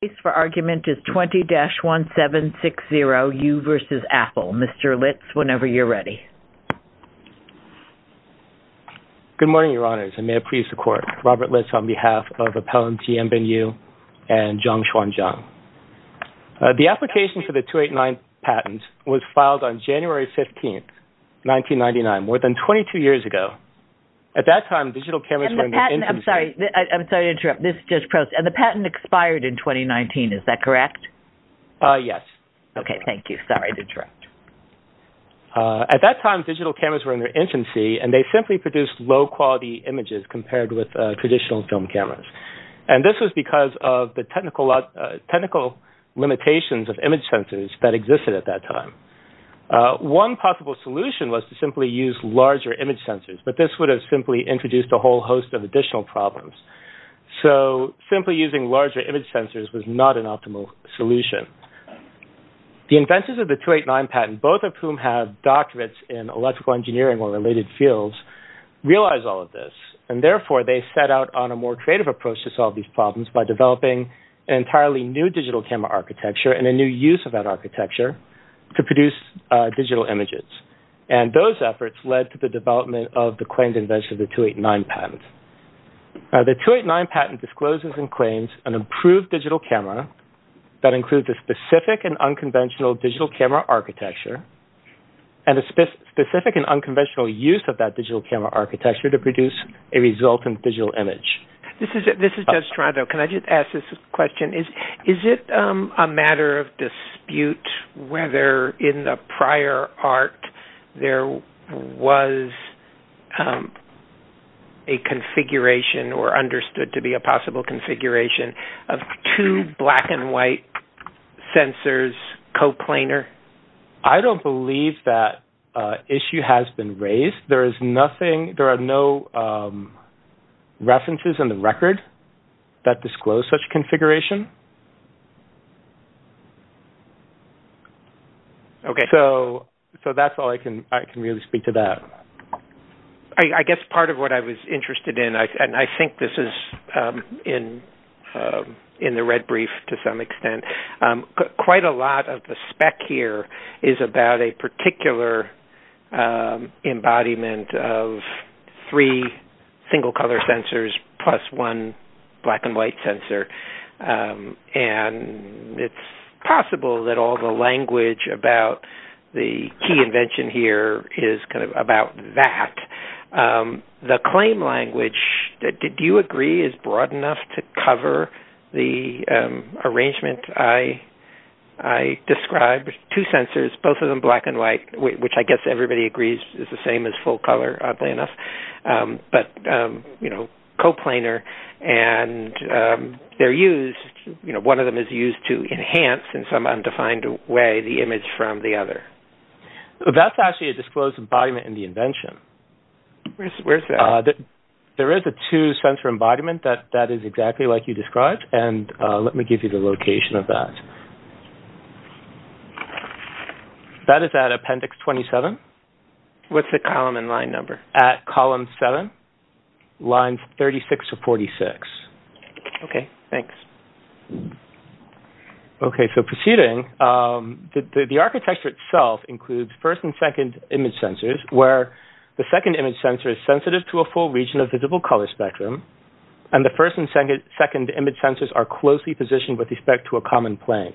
The case for argument is 20-1760, you vs. Apple. Mr. Litz, whenever you're ready. Good morning, Your Honors, and may it please the Court, Robert Litz on behalf of Appellant Jianbin Yu and Zhang Xuanzang. The application for the 289 patent was filed on January 15, 1999, more than 22 years ago. At that time, digital cameras were in the industry. And the patent expired in 2019, is that correct? Yes. Okay, thank you. Sorry to interrupt. At that time, digital cameras were in their infancy, and they simply produced low-quality images compared with traditional film cameras. And this was because of the technical limitations of image sensors that existed at that time. One possible solution was to simply use larger image sensors, but this would have simply introduced a whole host of additional problems. So, simply using larger image sensors was not an optimal solution. The inventors of the 289 patent, both of whom have doctorates in electrical engineering or related fields, realized all of this. And therefore, they set out on a more creative approach to solve these problems by developing an entirely new digital camera architecture and a new use of that architecture to produce digital images. And those efforts led to the development of the claimed invention of the 289 patent. Now, the 289 patent discloses and claims an improved digital camera that includes a specific and unconventional digital camera architecture and a specific and unconventional use of that digital camera architecture to produce a resultant digital image. This is Judge Toronto. Can I just ask this question? Is it a matter of dispute whether in the prior art there was a configuration or understood to be a possible configuration of two black and white sensors co-planar? I don't believe that issue has been raised. There are no references in the record that Okay. So that's all I can really speak to that. I guess part of what I was interested in, and I think this is in the red brief to some extent, quite a lot of the spec here is about a particular embodiment of three single-color sensors plus one black and white sensor. And it's possible that all the language about the key invention here is kind of about that. The claim language, do you agree, is broad enough to cover the arrangement? I described two sensors, both of them black and white, which I guess everybody agrees is the same as full color, oddly enough, but co-planar. And one of them is used to enhance in some undefined way the image from the other. That's actually a disclosed embodiment in the invention. Where's that? There is a two-sensor embodiment. That is exactly like you described. And let me give you the location of that. That is at appendix 27. What's the column and line number? At column 7, lines 36 to 46. Okay, thanks. Okay, so proceeding, the architecture itself includes first and second image sensors, where the second image sensor is sensitive to a full region of visible color spectrum, and the first and second image sensors are closely positioned with respect to a common plane.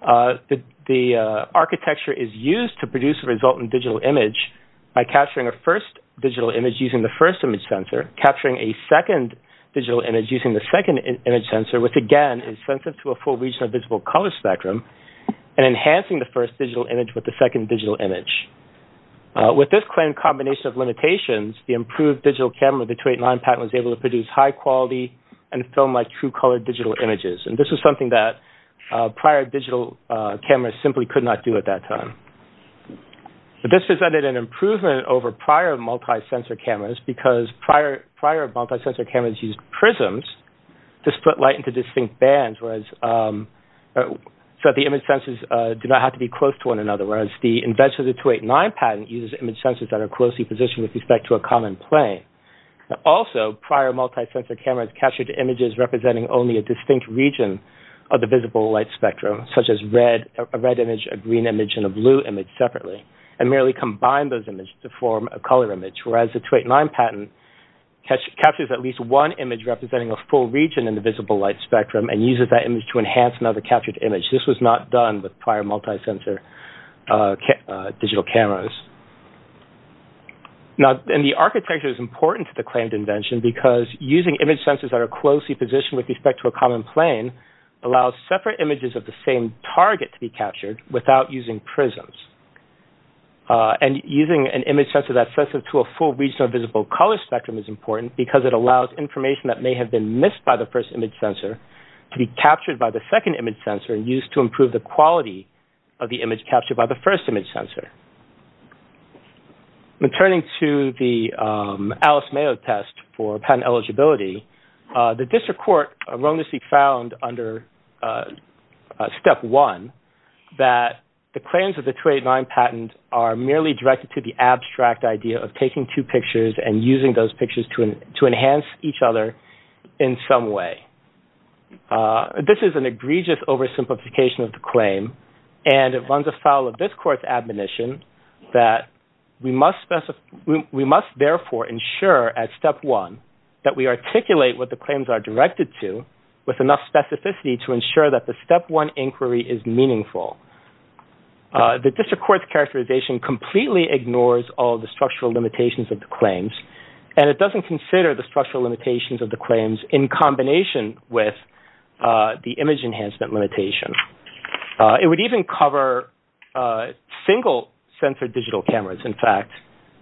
The architecture is used to produce a resultant digital image by capturing a first digital image using the first image sensor, capturing a second digital image using the second image sensor, which again is sensitive to a full region of visible color spectrum, and enhancing the first digital image with the second digital image. With this claim combination of limitations, the improved digital camera, the 289 patent, was able to produce high-quality and film-like true-color digital images. And this was something that prior digital cameras simply could not do at that time. But this presented an improvement over prior multi-sensor cameras because prior multi-sensor cameras used prisms to split light into distinct bands so that the image sensors did not have to be close to one another, whereas the invention of the 289 patent uses image sensors that are closely positioned with respect to a common plane. Also, prior multi-sensor cameras captured images representing only a distinct region of the visible light spectrum, such as a red image, a green image, and a blue image separately, and merely combined those images to form a color image, whereas the 289 patent captures at least one image representing a full region in the visible light spectrum and uses that image to enhance another captured image. This was not done with prior multi-sensor digital cameras. Now, the architecture is important to the claimed invention because using image sensors that are closely positioned with respect to a common plane allows separate images of the same target to be captured without using prisms. And using an image sensor that sets it to a full region of visible color spectrum is important because it allows information that may have been missed by the first image sensor to be captured by the second image sensor and used to improve the quality of the image captured by the first image sensor. Returning to the Alice Mayo test for patent eligibility, the district court wrongly found under Step 1 that the claims of the 289 patent are merely directed to the abstract idea of taking two pictures and using those pictures to enhance each other in some way. This is an egregious oversimplification of the claim, and it runs afoul of this court's admonition that we must therefore ensure at Step 1 that we articulate what the claims are directed to with enough specificity to ensure that the Step 1 inquiry is meaningful. The district court's characterization completely ignores all the structural limitations of the claims, and it doesn't consider the structural limitations of the claims in combination with the image enhancement limitation. It would even cover single-sensor digital cameras, in fact,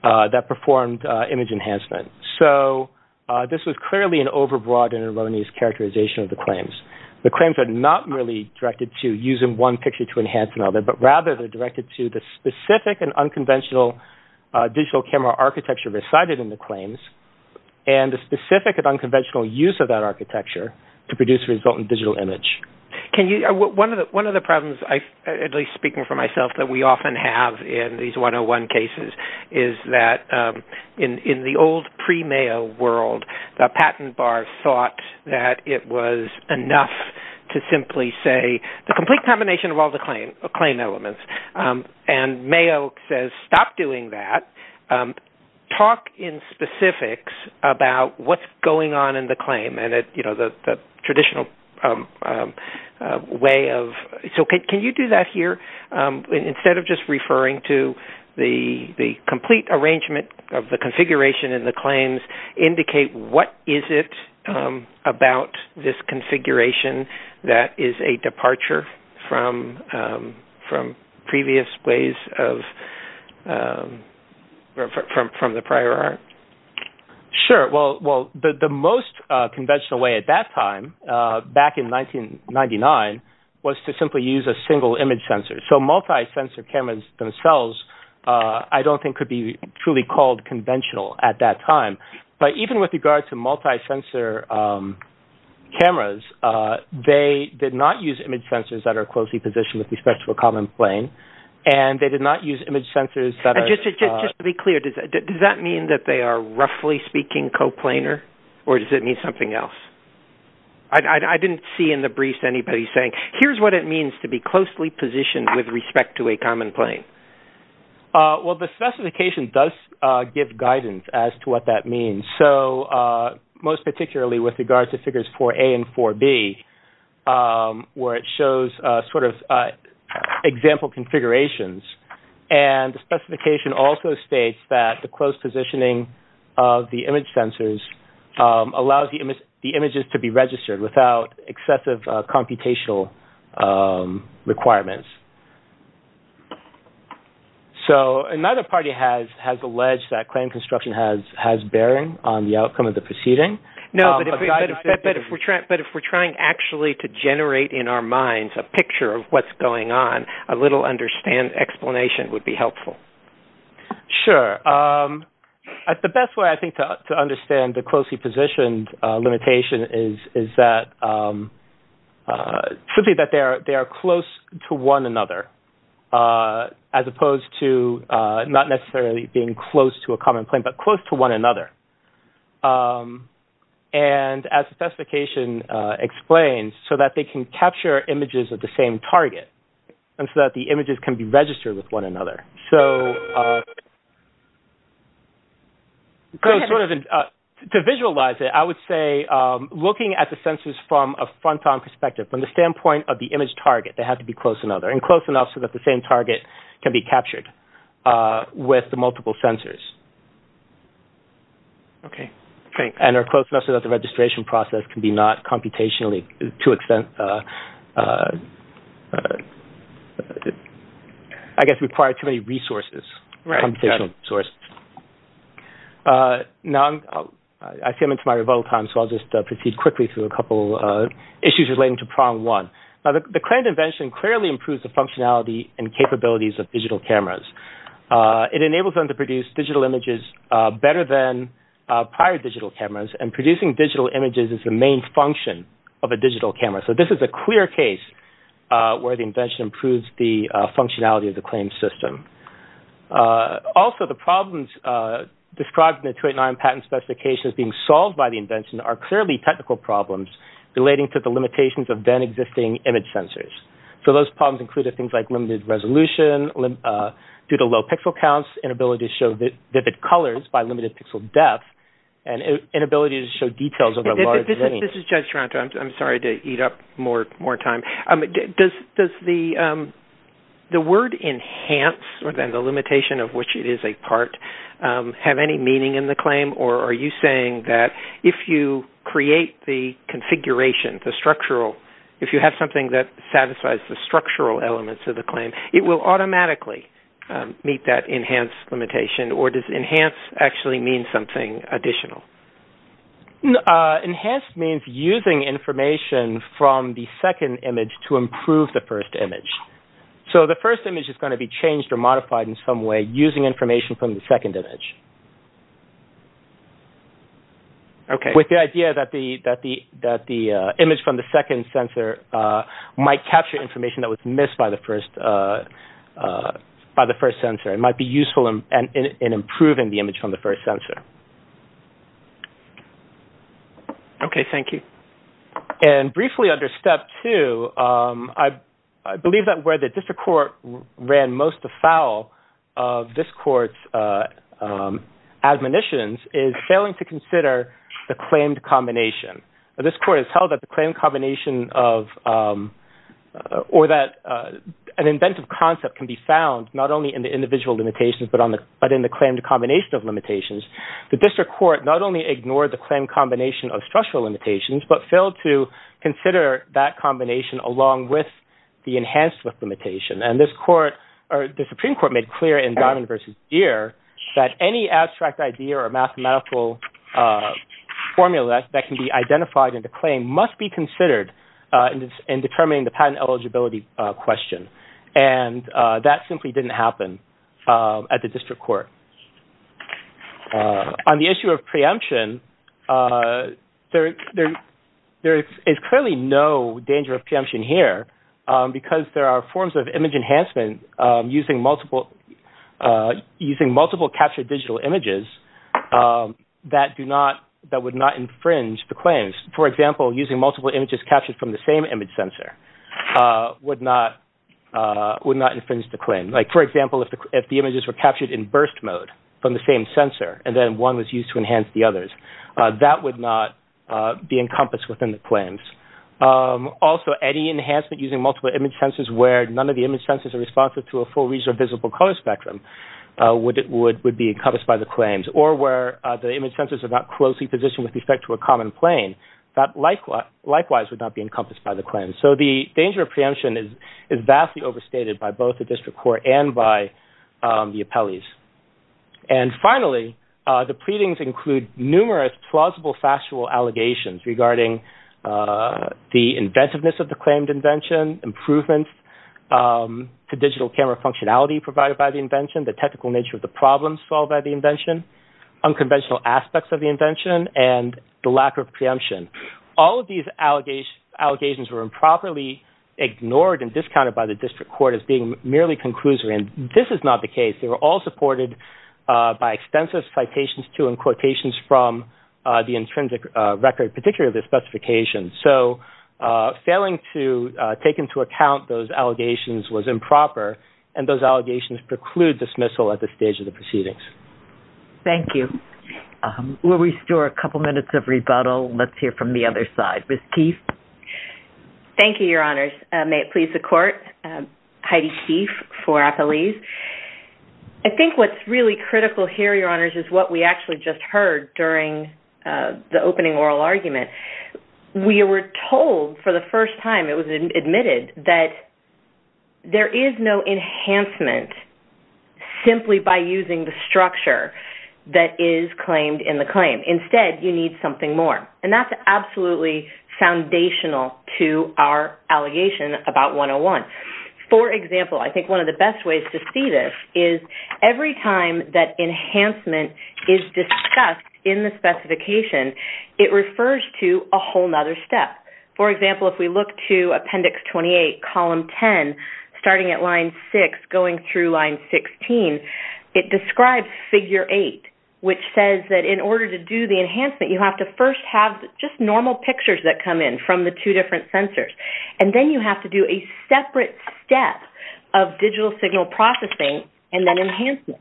that performed image enhancement. So this was clearly an overbroad and erroneous characterization of the claims. The claims are not really directed to using one picture to enhance another, but rather they're directed to the specific and unconventional digital camera architecture recited in the claims and the specific and unconventional use of that architecture to produce a resultant digital image. One of the problems, at least speaking for myself, that we often have in these 101 cases is that in the old pre-Mayo world, the patent bar thought that it was enough to simply say the complete combination of all the claim elements. And Mayo says stop doing that. Talk in specifics about what's going on in the claim and the traditional way of... So can you do that here? Instead of just referring to the complete arrangement of the configuration in the claims, indicate what is it about this configuration that is a departure from previous ways from the prior art. Sure. Well, the most conventional way at that time, back in 1999, was to simply use a single image sensor. So multi-sensor cameras themselves I don't think could be truly called conventional at that time. But even with regard to multi-sensor cameras, they did not use image sensors that are closely positioned with respect to a common plane, and they did not use image sensors that are... that are roughly speaking coplanar, or does it mean something else? I didn't see in the brief anybody saying, here's what it means to be closely positioned with respect to a common plane. Well, the specification does give guidance as to what that means. So most particularly with regard to figures 4A and 4B, where it shows sort of example configurations, and the specification also states that the close positioning of the image sensors allows the images to be registered without excessive computational requirements. So another party has alleged that claim construction has bearing on the outcome of the proceeding. No, but if we're trying actually to generate in our minds a picture of what's going on, a little understand explanation would be helpful. Sure. The best way I think to understand the closely positioned limitation is that... simply that they are close to one another, as opposed to not necessarily being close to a common plane, but close to one another. And as the specification explains, so that they can capture images of the same target. And so that the images can be registered with one another. To visualize it, I would say looking at the sensors from a front-on perspective, from the standpoint of the image target, they have to be close to another, and close enough so that the same target can be captured with the multiple sensors. Okay, thanks. And are close enough so that the registration process can be not computationally to extent... I guess require too many resources, computational resources. Right, got it. Now, I see I'm into my rebuttal time, so I'll just proceed quickly through a couple issues relating to prong one. Now, the claimed invention clearly improves the functionality and capabilities of digital cameras. It enables them to produce digital images better than prior digital cameras. And producing digital images is the main function of a digital camera. So, this is a clear case where the invention improves the functionality of the claimed system. Also, the problems described in the 289 patent specifications being solved by the invention... are clearly technical problems relating to the limitations of then existing image sensors. So, those problems included things like limited resolution, due to low pixel counts, inability to show vivid colors by limited pixel depth, and inability to show details of a large... This is Judge Taranto. I'm sorry to eat up more time. Does the word enhance, or then the limitation of which it is a part, have any meaning in the claim? Or are you saying that if you create the configuration, the structural, if you have something that satisfies the structural elements of the claim, it will automatically meet that enhanced limitation? Or does enhanced actually mean something additional? Enhanced means using information from the second image to improve the first image. So, the first image is going to be changed or modified in some way using information from the second image. Okay. With the idea that the image from the second sensor might capture information that was missed by the first sensor. It might be useful in improving the image from the first sensor. Okay. Thank you. And briefly under step two, I believe that where the district court ran most afoul of this court's admonitions is failing to consider the claimed combination. This court has held that the claimed combination of... Or that an inventive concept can be found not only in the individual limitations, but in the claimed combination of limitations. The district court not only ignored the claimed combination of structural limitations, but failed to consider that combination along with the enhanced limitation. And this court, or the Supreme Court, made clear in Diamond v. Deere that any abstract idea or mathematical formula that can be identified in the claim must be considered in determining the patent eligibility question. And that simply didn't happen at the district court. On the issue of preemption, there is clearly no danger of preemption here because there are forms of image enhancement using multiple captured digital images that would not infringe the claims. For example, using multiple images captured from the same image sensor would not infringe the claim. For example, if the images were captured in burst mode from the same sensor and then one was used to enhance the others, that would not be encompassed within the claims. Also, any enhancement using multiple image sensors where none of the image sensors are responsive to a full region of visible color spectrum would be encompassed by the claims. Or where the image sensors are not closely positioned with respect to a common plane, that likewise would not be encompassed by the claims. So the danger of preemption is vastly overstated by both the district court and by the appellees. And finally, the pleadings include numerous plausible factual allegations regarding the inventiveness of the claimed invention, improvements to digital camera functionality provided by the invention, the technical nature of the problems solved by the invention, unconventional aspects of the invention, and the lack of preemption. All of these allegations were improperly ignored and discounted by the district court as being merely conclusory. And this is not the case. They were all supported by extensive citations to and quotations from the intrinsic record, particularly the specifications. So failing to take into account those allegations was improper, and those allegations preclude dismissal at this stage of the proceedings. Thank you. We'll restore a couple minutes of rebuttal. Let's hear from the other side. Ms. Keefe. Thank you, Your Honors. May it please the Court. Heidi Keefe for appellees. I think what's really critical here, Your Honors, is what we actually just heard during the opening oral argument. We were told for the first time, it was admitted, that there is no enhancement simply by using the structure that is claimed in the claim. Instead, you need something more. And that's absolutely foundational to our allegation about 101. For example, I think one of the best ways to see this is every time that enhancement is discussed in the specification, it refers to a whole other step. For example, if we look to Appendix 28, Column 10, starting at Line 6 going through Line 16, it describes Figure 8, which says that in order to do the enhancement, you have to first have just normal pictures that come in from the two different sensors. And then you have to do a separate step of digital signal processing and then enhancement.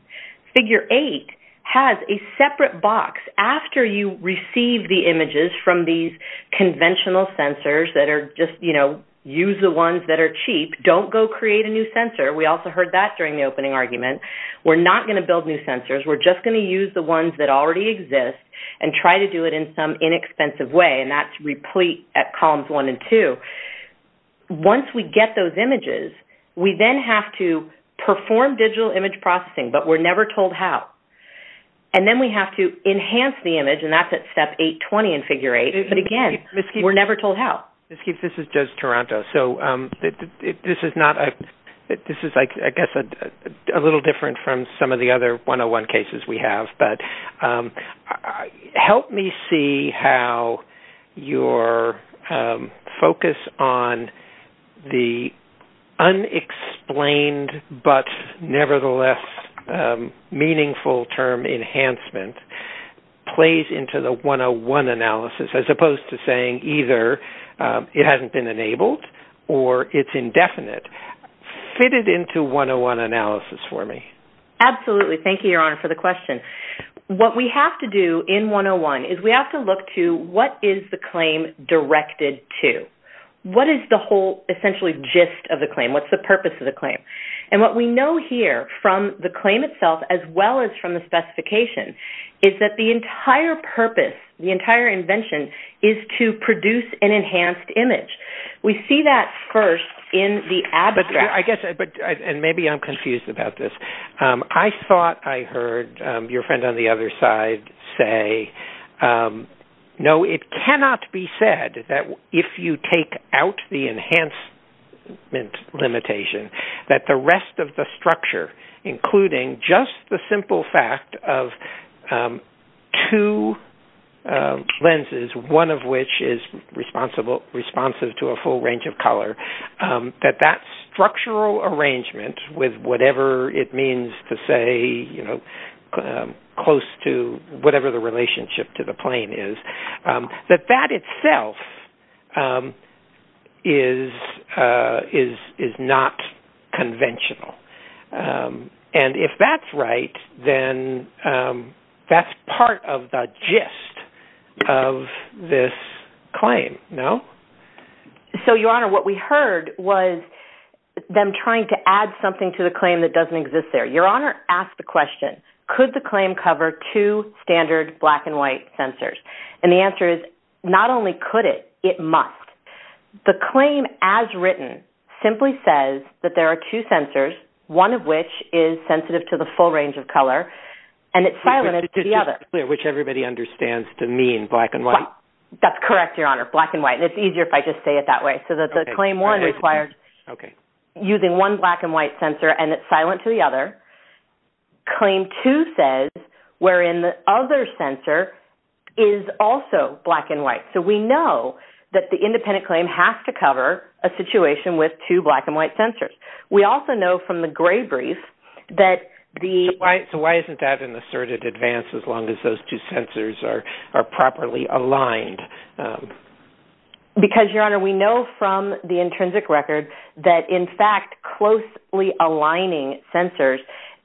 Figure 8 has a separate box after you receive the images from these conventional sensors that are just, you know, use the ones that are cheap. Don't go create a new sensor. We also heard that during the opening argument. We're not going to build new sensors. We're just going to use the ones that already exist and try to do it in some inexpensive way, and that's replete at Columns 1 and 2. Once we get those images, we then have to perform digital image processing, but we're never told how. And then we have to enhance the image, and that's at Step 820 in Figure 8. But again, we're never told how. This is Judge Taranto. So this is, I guess, a little different from some of the other 101 cases we have, but help me see how your focus on the unexplained but nevertheless meaningful term enhancement plays into the 101 analysis, as opposed to saying either it hasn't been enabled or it's indefinite. Fit it into 101 analysis for me. Thank you, Your Honor, for the question. What we have to do in 101 is we have to look to what is the claim directed to. What is the whole essentially gist of the claim? What's the purpose of the claim? And what we know here from the claim itself as well as from the specification is that the entire purpose, the entire invention, is to produce an enhanced image. We see that first in the abstract. And maybe I'm confused about this. I thought I heard your friend on the other side say, no, it cannot be said that if you take out the enhancement limitation that the rest of the structure, including just the simple fact of two lenses, one of which is responsive to a full range of color, that that structural arrangement with whatever it means to say close to whatever the relationship to the plane is, that that itself is not conventional. And if that's right, then that's part of the gist of this claim, no? So, Your Honor, what we heard was them trying to add something to the claim that doesn't exist there. Your Honor, ask the question, could the claim cover two standard black and white sensors? And the answer is not only could it, it must. The claim as written simply says that there are two sensors, one of which is sensitive to the full range of color, and it's silent to the other. Which everybody understands to mean black and white? That's correct, Your Honor, black and white. And it's easier if I just say it that way. So the claim one requires using one black and white sensor and it's silent to the other. Claim two says wherein the other sensor is also black and white. So we know that the independent claim has to cover a situation with two black and white sensors. We also know from the gray brief that the... So why isn't that an asserted advance as long as those two sensors are properly aligned? Because, Your Honor, we know from the intrinsic record that, in fact, closely aligning sensors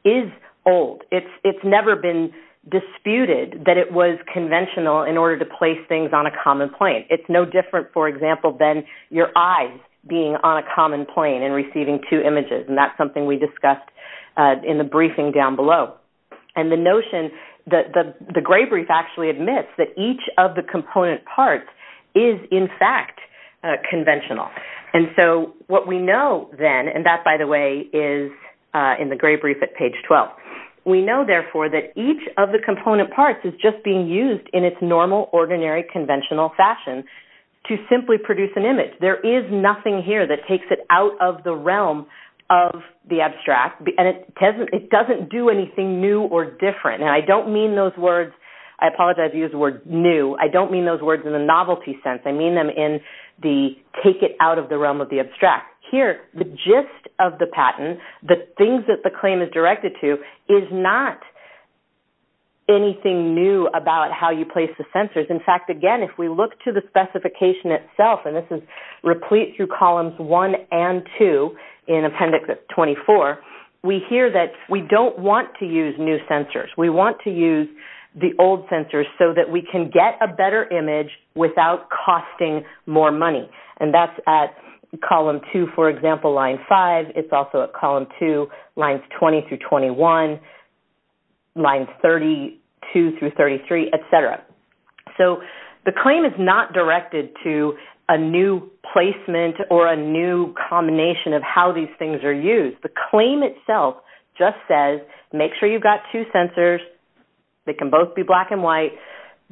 is old. It's never been disputed that it was conventional in order to place things on a common plane. It's no different, for example, than your eyes being on a common plane and receiving two images, and that's something we discussed in the briefing down below. And the notion that the gray brief actually admits that each of the component parts is, in fact, conventional. And so what we know then, and that, by the way, is in the gray brief at page 12, we know, therefore, that each of the component parts is just being used in its normal, ordinary, conventional fashion to simply produce an image. There is nothing here that takes it out of the realm of the abstract, and it doesn't do anything new or different. And I don't mean those words. I apologize. I've used the word new. I don't mean those words in the novelty sense. I mean them in the take it out of the realm of the abstract. Here, the gist of the patent, the things that the claim is directed to, is not anything new about how you place the sensors. In fact, again, if we look to the specification itself, and this is replete through columns 1 and 2 in Appendix 24, we hear that we don't want to use new sensors. We want to use the old sensors so that we can get a better image without costing more money. And that's at column 2, for example, line 5. It's also at column 2, lines 20 through 21, lines 32 through 33, et cetera. So the claim is not directed to a new placement or a new combination of how these things are used. The claim itself just says make sure you've got two sensors that can both be black and white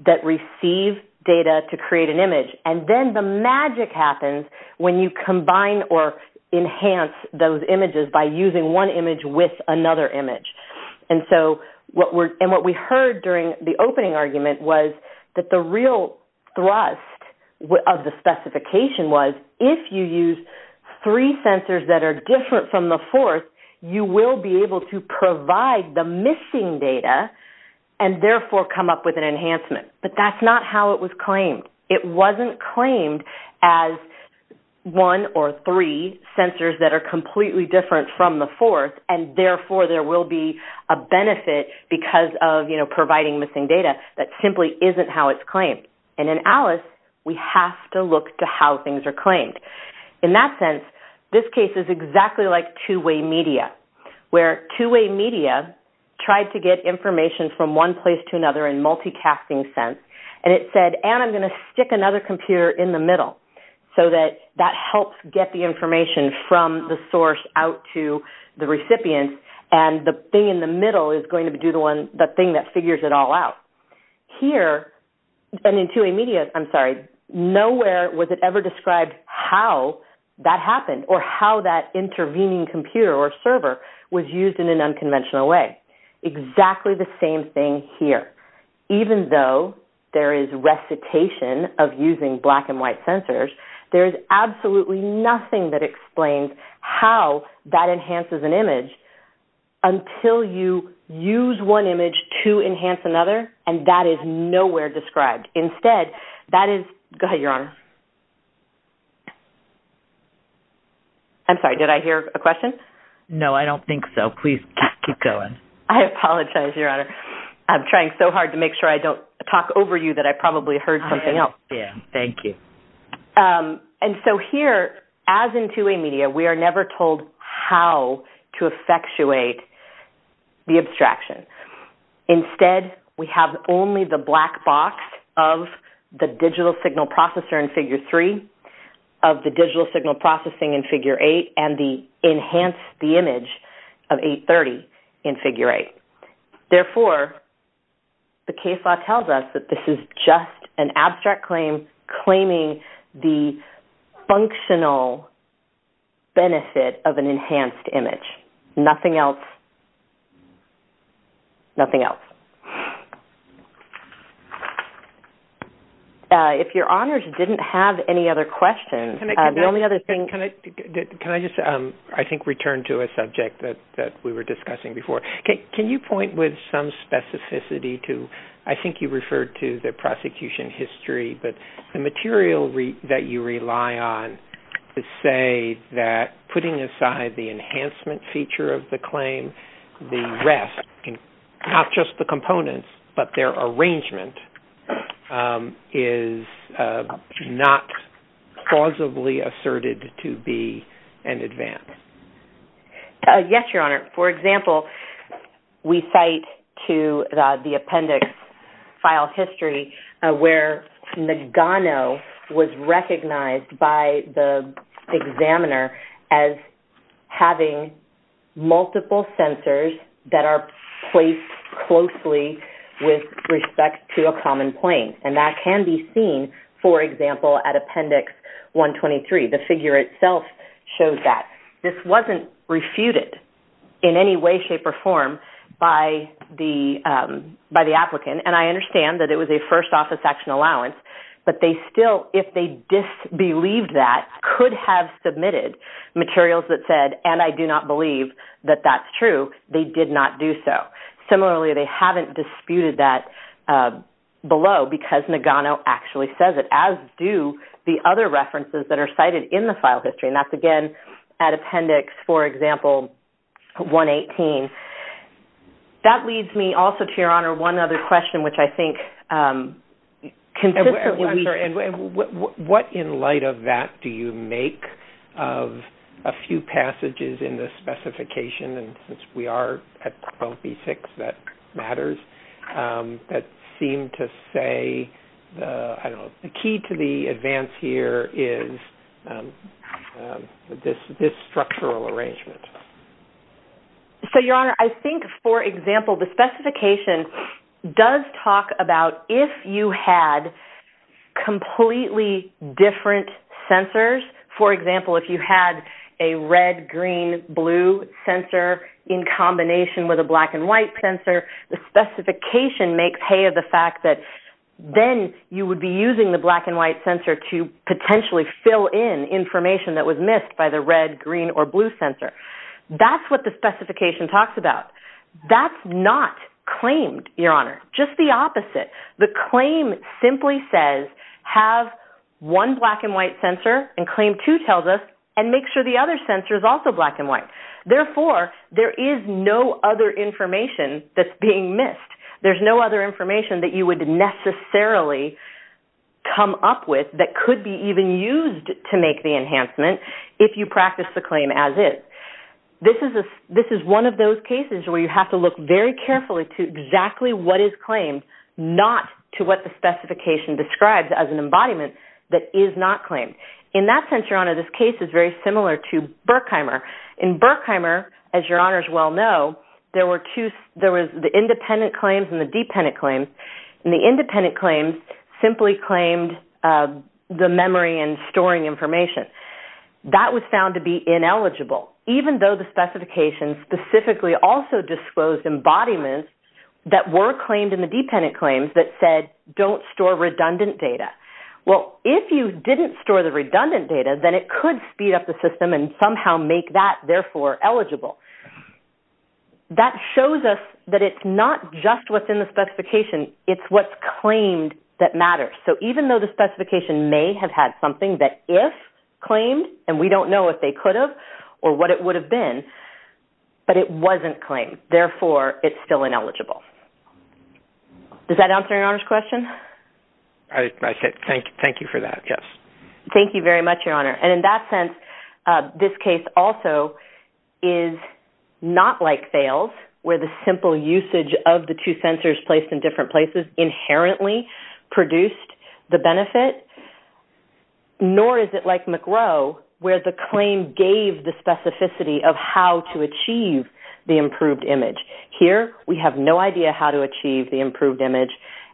that receive data to create an image. And then the magic happens when you combine or enhance those images by using one image with another image. And what we heard during the opening argument was that the real thrust of the specification was if you use three sensors that are different from the fourth, you will be able to provide the missing data and therefore come up with an enhancement. But that's not how it was claimed. It wasn't claimed as one or three sensors that are completely different from the fourth, and therefore there will be a benefit because of providing missing data. That simply isn't how it's claimed. And in Alice, we have to look to how things are claimed. In that sense, this case is exactly like two-way media, where two-way media tried to get information from one place to another in multicasting sense. And it said, and I'm going to stick another computer in the middle so that that helps get the information from the source out to the recipient, and the thing in the middle is going to do the thing that figures it all out. Here, and in two-way media, I'm sorry, nowhere was it ever described how that happened or how that intervening computer or server was used in an unconventional way. Exactly the same thing here. Even though there is recitation of using black-and-white sensors, there is absolutely nothing that explains how that enhances an image until you use one image to enhance another, and that is nowhere described. Instead, that is – go ahead, Your Honor. No, I don't think so. Please keep going. I apologize, Your Honor. I'm trying so hard to make sure I don't talk over you that I probably heard something else. Yeah, thank you. And so here, as in two-way media, we are never told how to effectuate the abstraction. Instead, we have only the black box of the digital signal processor in Figure 3, of the digital signal processing in Figure 8, and the enhanced image of 830 in Figure 8. Therefore, the case law tells us that this is just an abstract claim claiming the functional benefit of an enhanced image, nothing else. Nothing else. If Your Honors didn't have any other questions, the only other thing – Can I just, I think, return to a subject that we were discussing before? Can you point with some specificity to – I think you referred to the prosecution history, but the material that you rely on to say that putting aside the enhancement feature of the claim, the rest – not just the components, but their arrangement – is not plausibly asserted to be an advance? Yes, Your Honor. For example, we cite to the appendix file history where Nagano was recognized by the examiner as having multiple sensors that are placed closely with respect to a common plane. And that can be seen, for example, at Appendix 123. The figure itself shows that. This wasn't refuted in any way, shape, or form by the applicant. And I understand that it was a first-office action allowance. But they still, if they disbelieved that, could have submitted materials that said, and I do not believe that that's true, they did not do so. Similarly, they haven't disputed that below because Nagano actually says it, as do the other references that are cited in the file history. And that's, again, at Appendix, for example, 118. That leads me also to, Your Honor, one other question, which I think consistently we – I'm sorry. What in light of that do you make of a few passages in the specification, and since we are at 12B6, that matters, that seem to say, I don't know, the key to the advance here is this structural arrangement. So, Your Honor, I think, for example, the specification does talk about if you had completely different sensors. For example, if you had a red-green-blue sensor in combination with a black-and-white sensor, the specification makes hay of the fact that then you would be using the black-and-white sensor to potentially fill in information that was missed by the red, green, or blue sensor. That's what the specification talks about. That's not claimed, Your Honor, just the opposite. The claim simply says, have one black-and-white sensor, and claim two tells us, and make sure the other sensor is also black-and-white. Therefore, there is no other information that's being missed. There's no other information that you would necessarily come up with that could be even used to make the enhancement if you practice the claim as is. This is one of those cases where you have to look very carefully to exactly what is claimed, not to what the specification describes as an embodiment that is not claimed. In that sense, Your Honor, this case is very similar to Burkheimer. In Burkheimer, as Your Honors well know, there was the independent claims and the dependent claims. The independent claims simply claimed the memory and storing information. That was found to be ineligible, even though the specification specifically also disclosed embodiments that were claimed in the dependent claims that said, don't store redundant data. Well, if you didn't store the redundant data, then it could speed up the system and somehow make that, therefore, eligible. That shows us that it's not just within the specification. It's what's claimed that matters. So even though the specification may have had something that if claimed, and we don't know if they could have or what it would have been, but it wasn't claimed. Therefore, it's still ineligible. Does that answer Your Honor's question? Thank you for that, yes. Thank you very much, Your Honor. And in that sense, this case also is not like Thales, where the simple usage of the two sensors placed in different places inherently produced the benefit. Nor is it like McGrow, where the claim gave the specificity of how to achieve the improved image. Here, we have no idea how to achieve the improved image.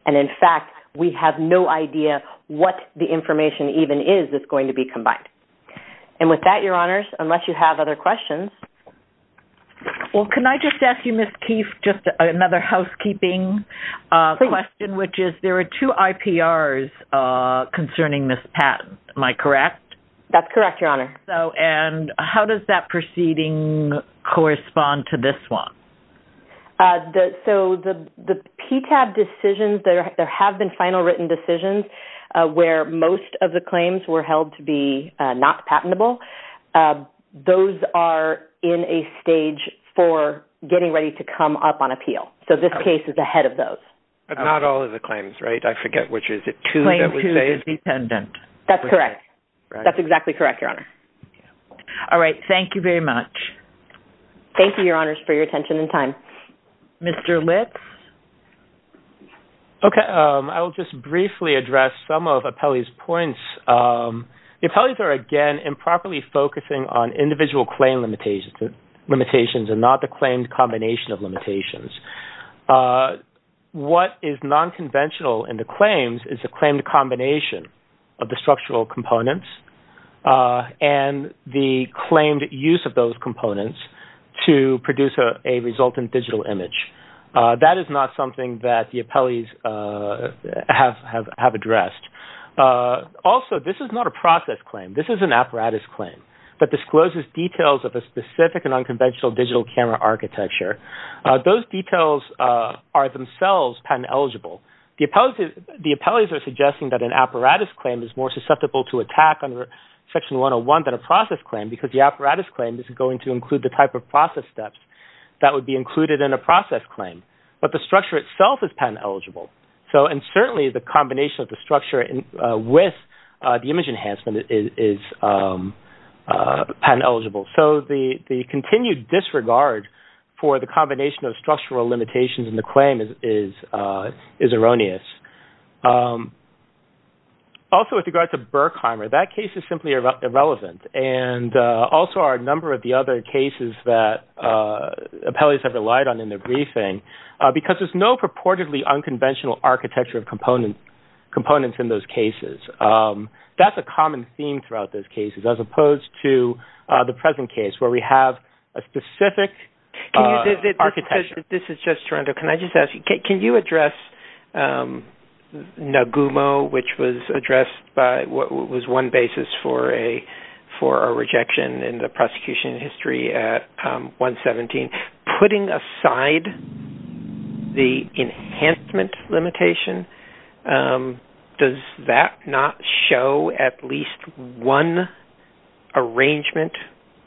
And, in fact, we have no idea what the information even is that's going to be combined. And with that, Your Honors, unless you have other questions. Well, can I just ask you, Ms. Keefe, just another housekeeping question, which is there are two IPRs concerning this patent. Am I correct? That's correct, Your Honor. And how does that proceeding correspond to this one? So the PTAB decisions, there have been final written decisions where most of the claims were held to be not patentable. Those are in a stage for getting ready to come up on appeal. So this case is ahead of those. But not all of the claims, right? I forget which is it. Claim two is dependent. That's correct. That's exactly correct, Your Honor. All right. Thank you very much. Thank you, Your Honors, for your attention and time. Mr. Lips? Okay. I will just briefly address some of Apelli's points. The Apellis are, again, improperly focusing on individual claim limitations and not the claimed combination of limitations. What is nonconventional in the claims is the claimed combination of the structural components and the claimed use of those components to produce a resultant digital image. That is not something that the Apellis have addressed. Also, this is not a process claim. This is an apparatus claim that discloses details of a specific and unconventional digital camera architecture. Those details are themselves patent eligible. The Apellis are suggesting that an apparatus claim is more susceptible to attack under Section 101 than a process claim because the apparatus claim is going to include the type of process steps that would be included in a process claim. But the structure itself is patent eligible. And certainly the combination of the structure with the image enhancement is patent eligible. So the continued disregard for the combination of structural limitations in the claim is erroneous. Also, with regard to Berkheimer, that case is simply irrelevant. And also are a number of the other cases that Apellis have relied on in the briefing because there's no purportedly unconventional architecture of components in those cases. That's a common theme throughout those cases as opposed to the present case where we have a specific architecture. This is just Toronto. Can I just ask you, can you address Nagumo, which was addressed by what was one basis for a rejection in the prosecution history at 117? Putting aside the enhancement limitation, does that not show at least one arrangement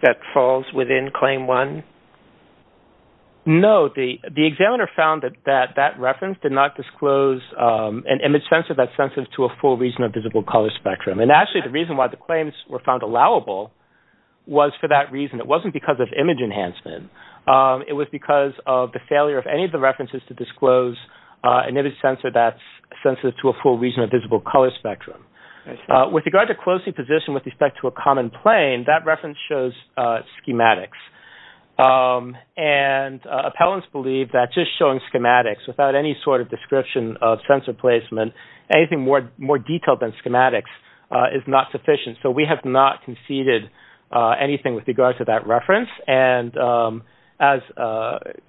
that falls within Claim 1? No. The examiner found that that reference did not disclose an image sensitive to a full region of visible color spectrum. And actually the reason why the claims were found allowable was for that reason. It wasn't because of image enhancement. It was because of the failure of any of the references to disclose an image sensor that's sensitive to a full region of visible color spectrum. With regard to closing position with respect to a common plane, that reference shows schematics. And appellants believe that just showing schematics without any sort of description of sensor placement, anything more detailed than schematics, is not sufficient. So we have not conceded anything with regards to that reference. And as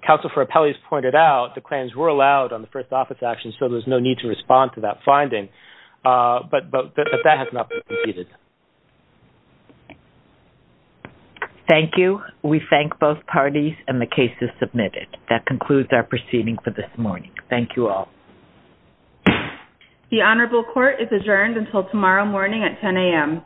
Counsel for Appellees pointed out, the claims were allowed on the first office action, so there's no need to respond to that finding. But that has not been conceded. Thank you. We thank both parties and the cases submitted. That concludes our proceeding for this morning. Thank you all. The Honorable Court is adjourned until tomorrow morning at 10 a.m.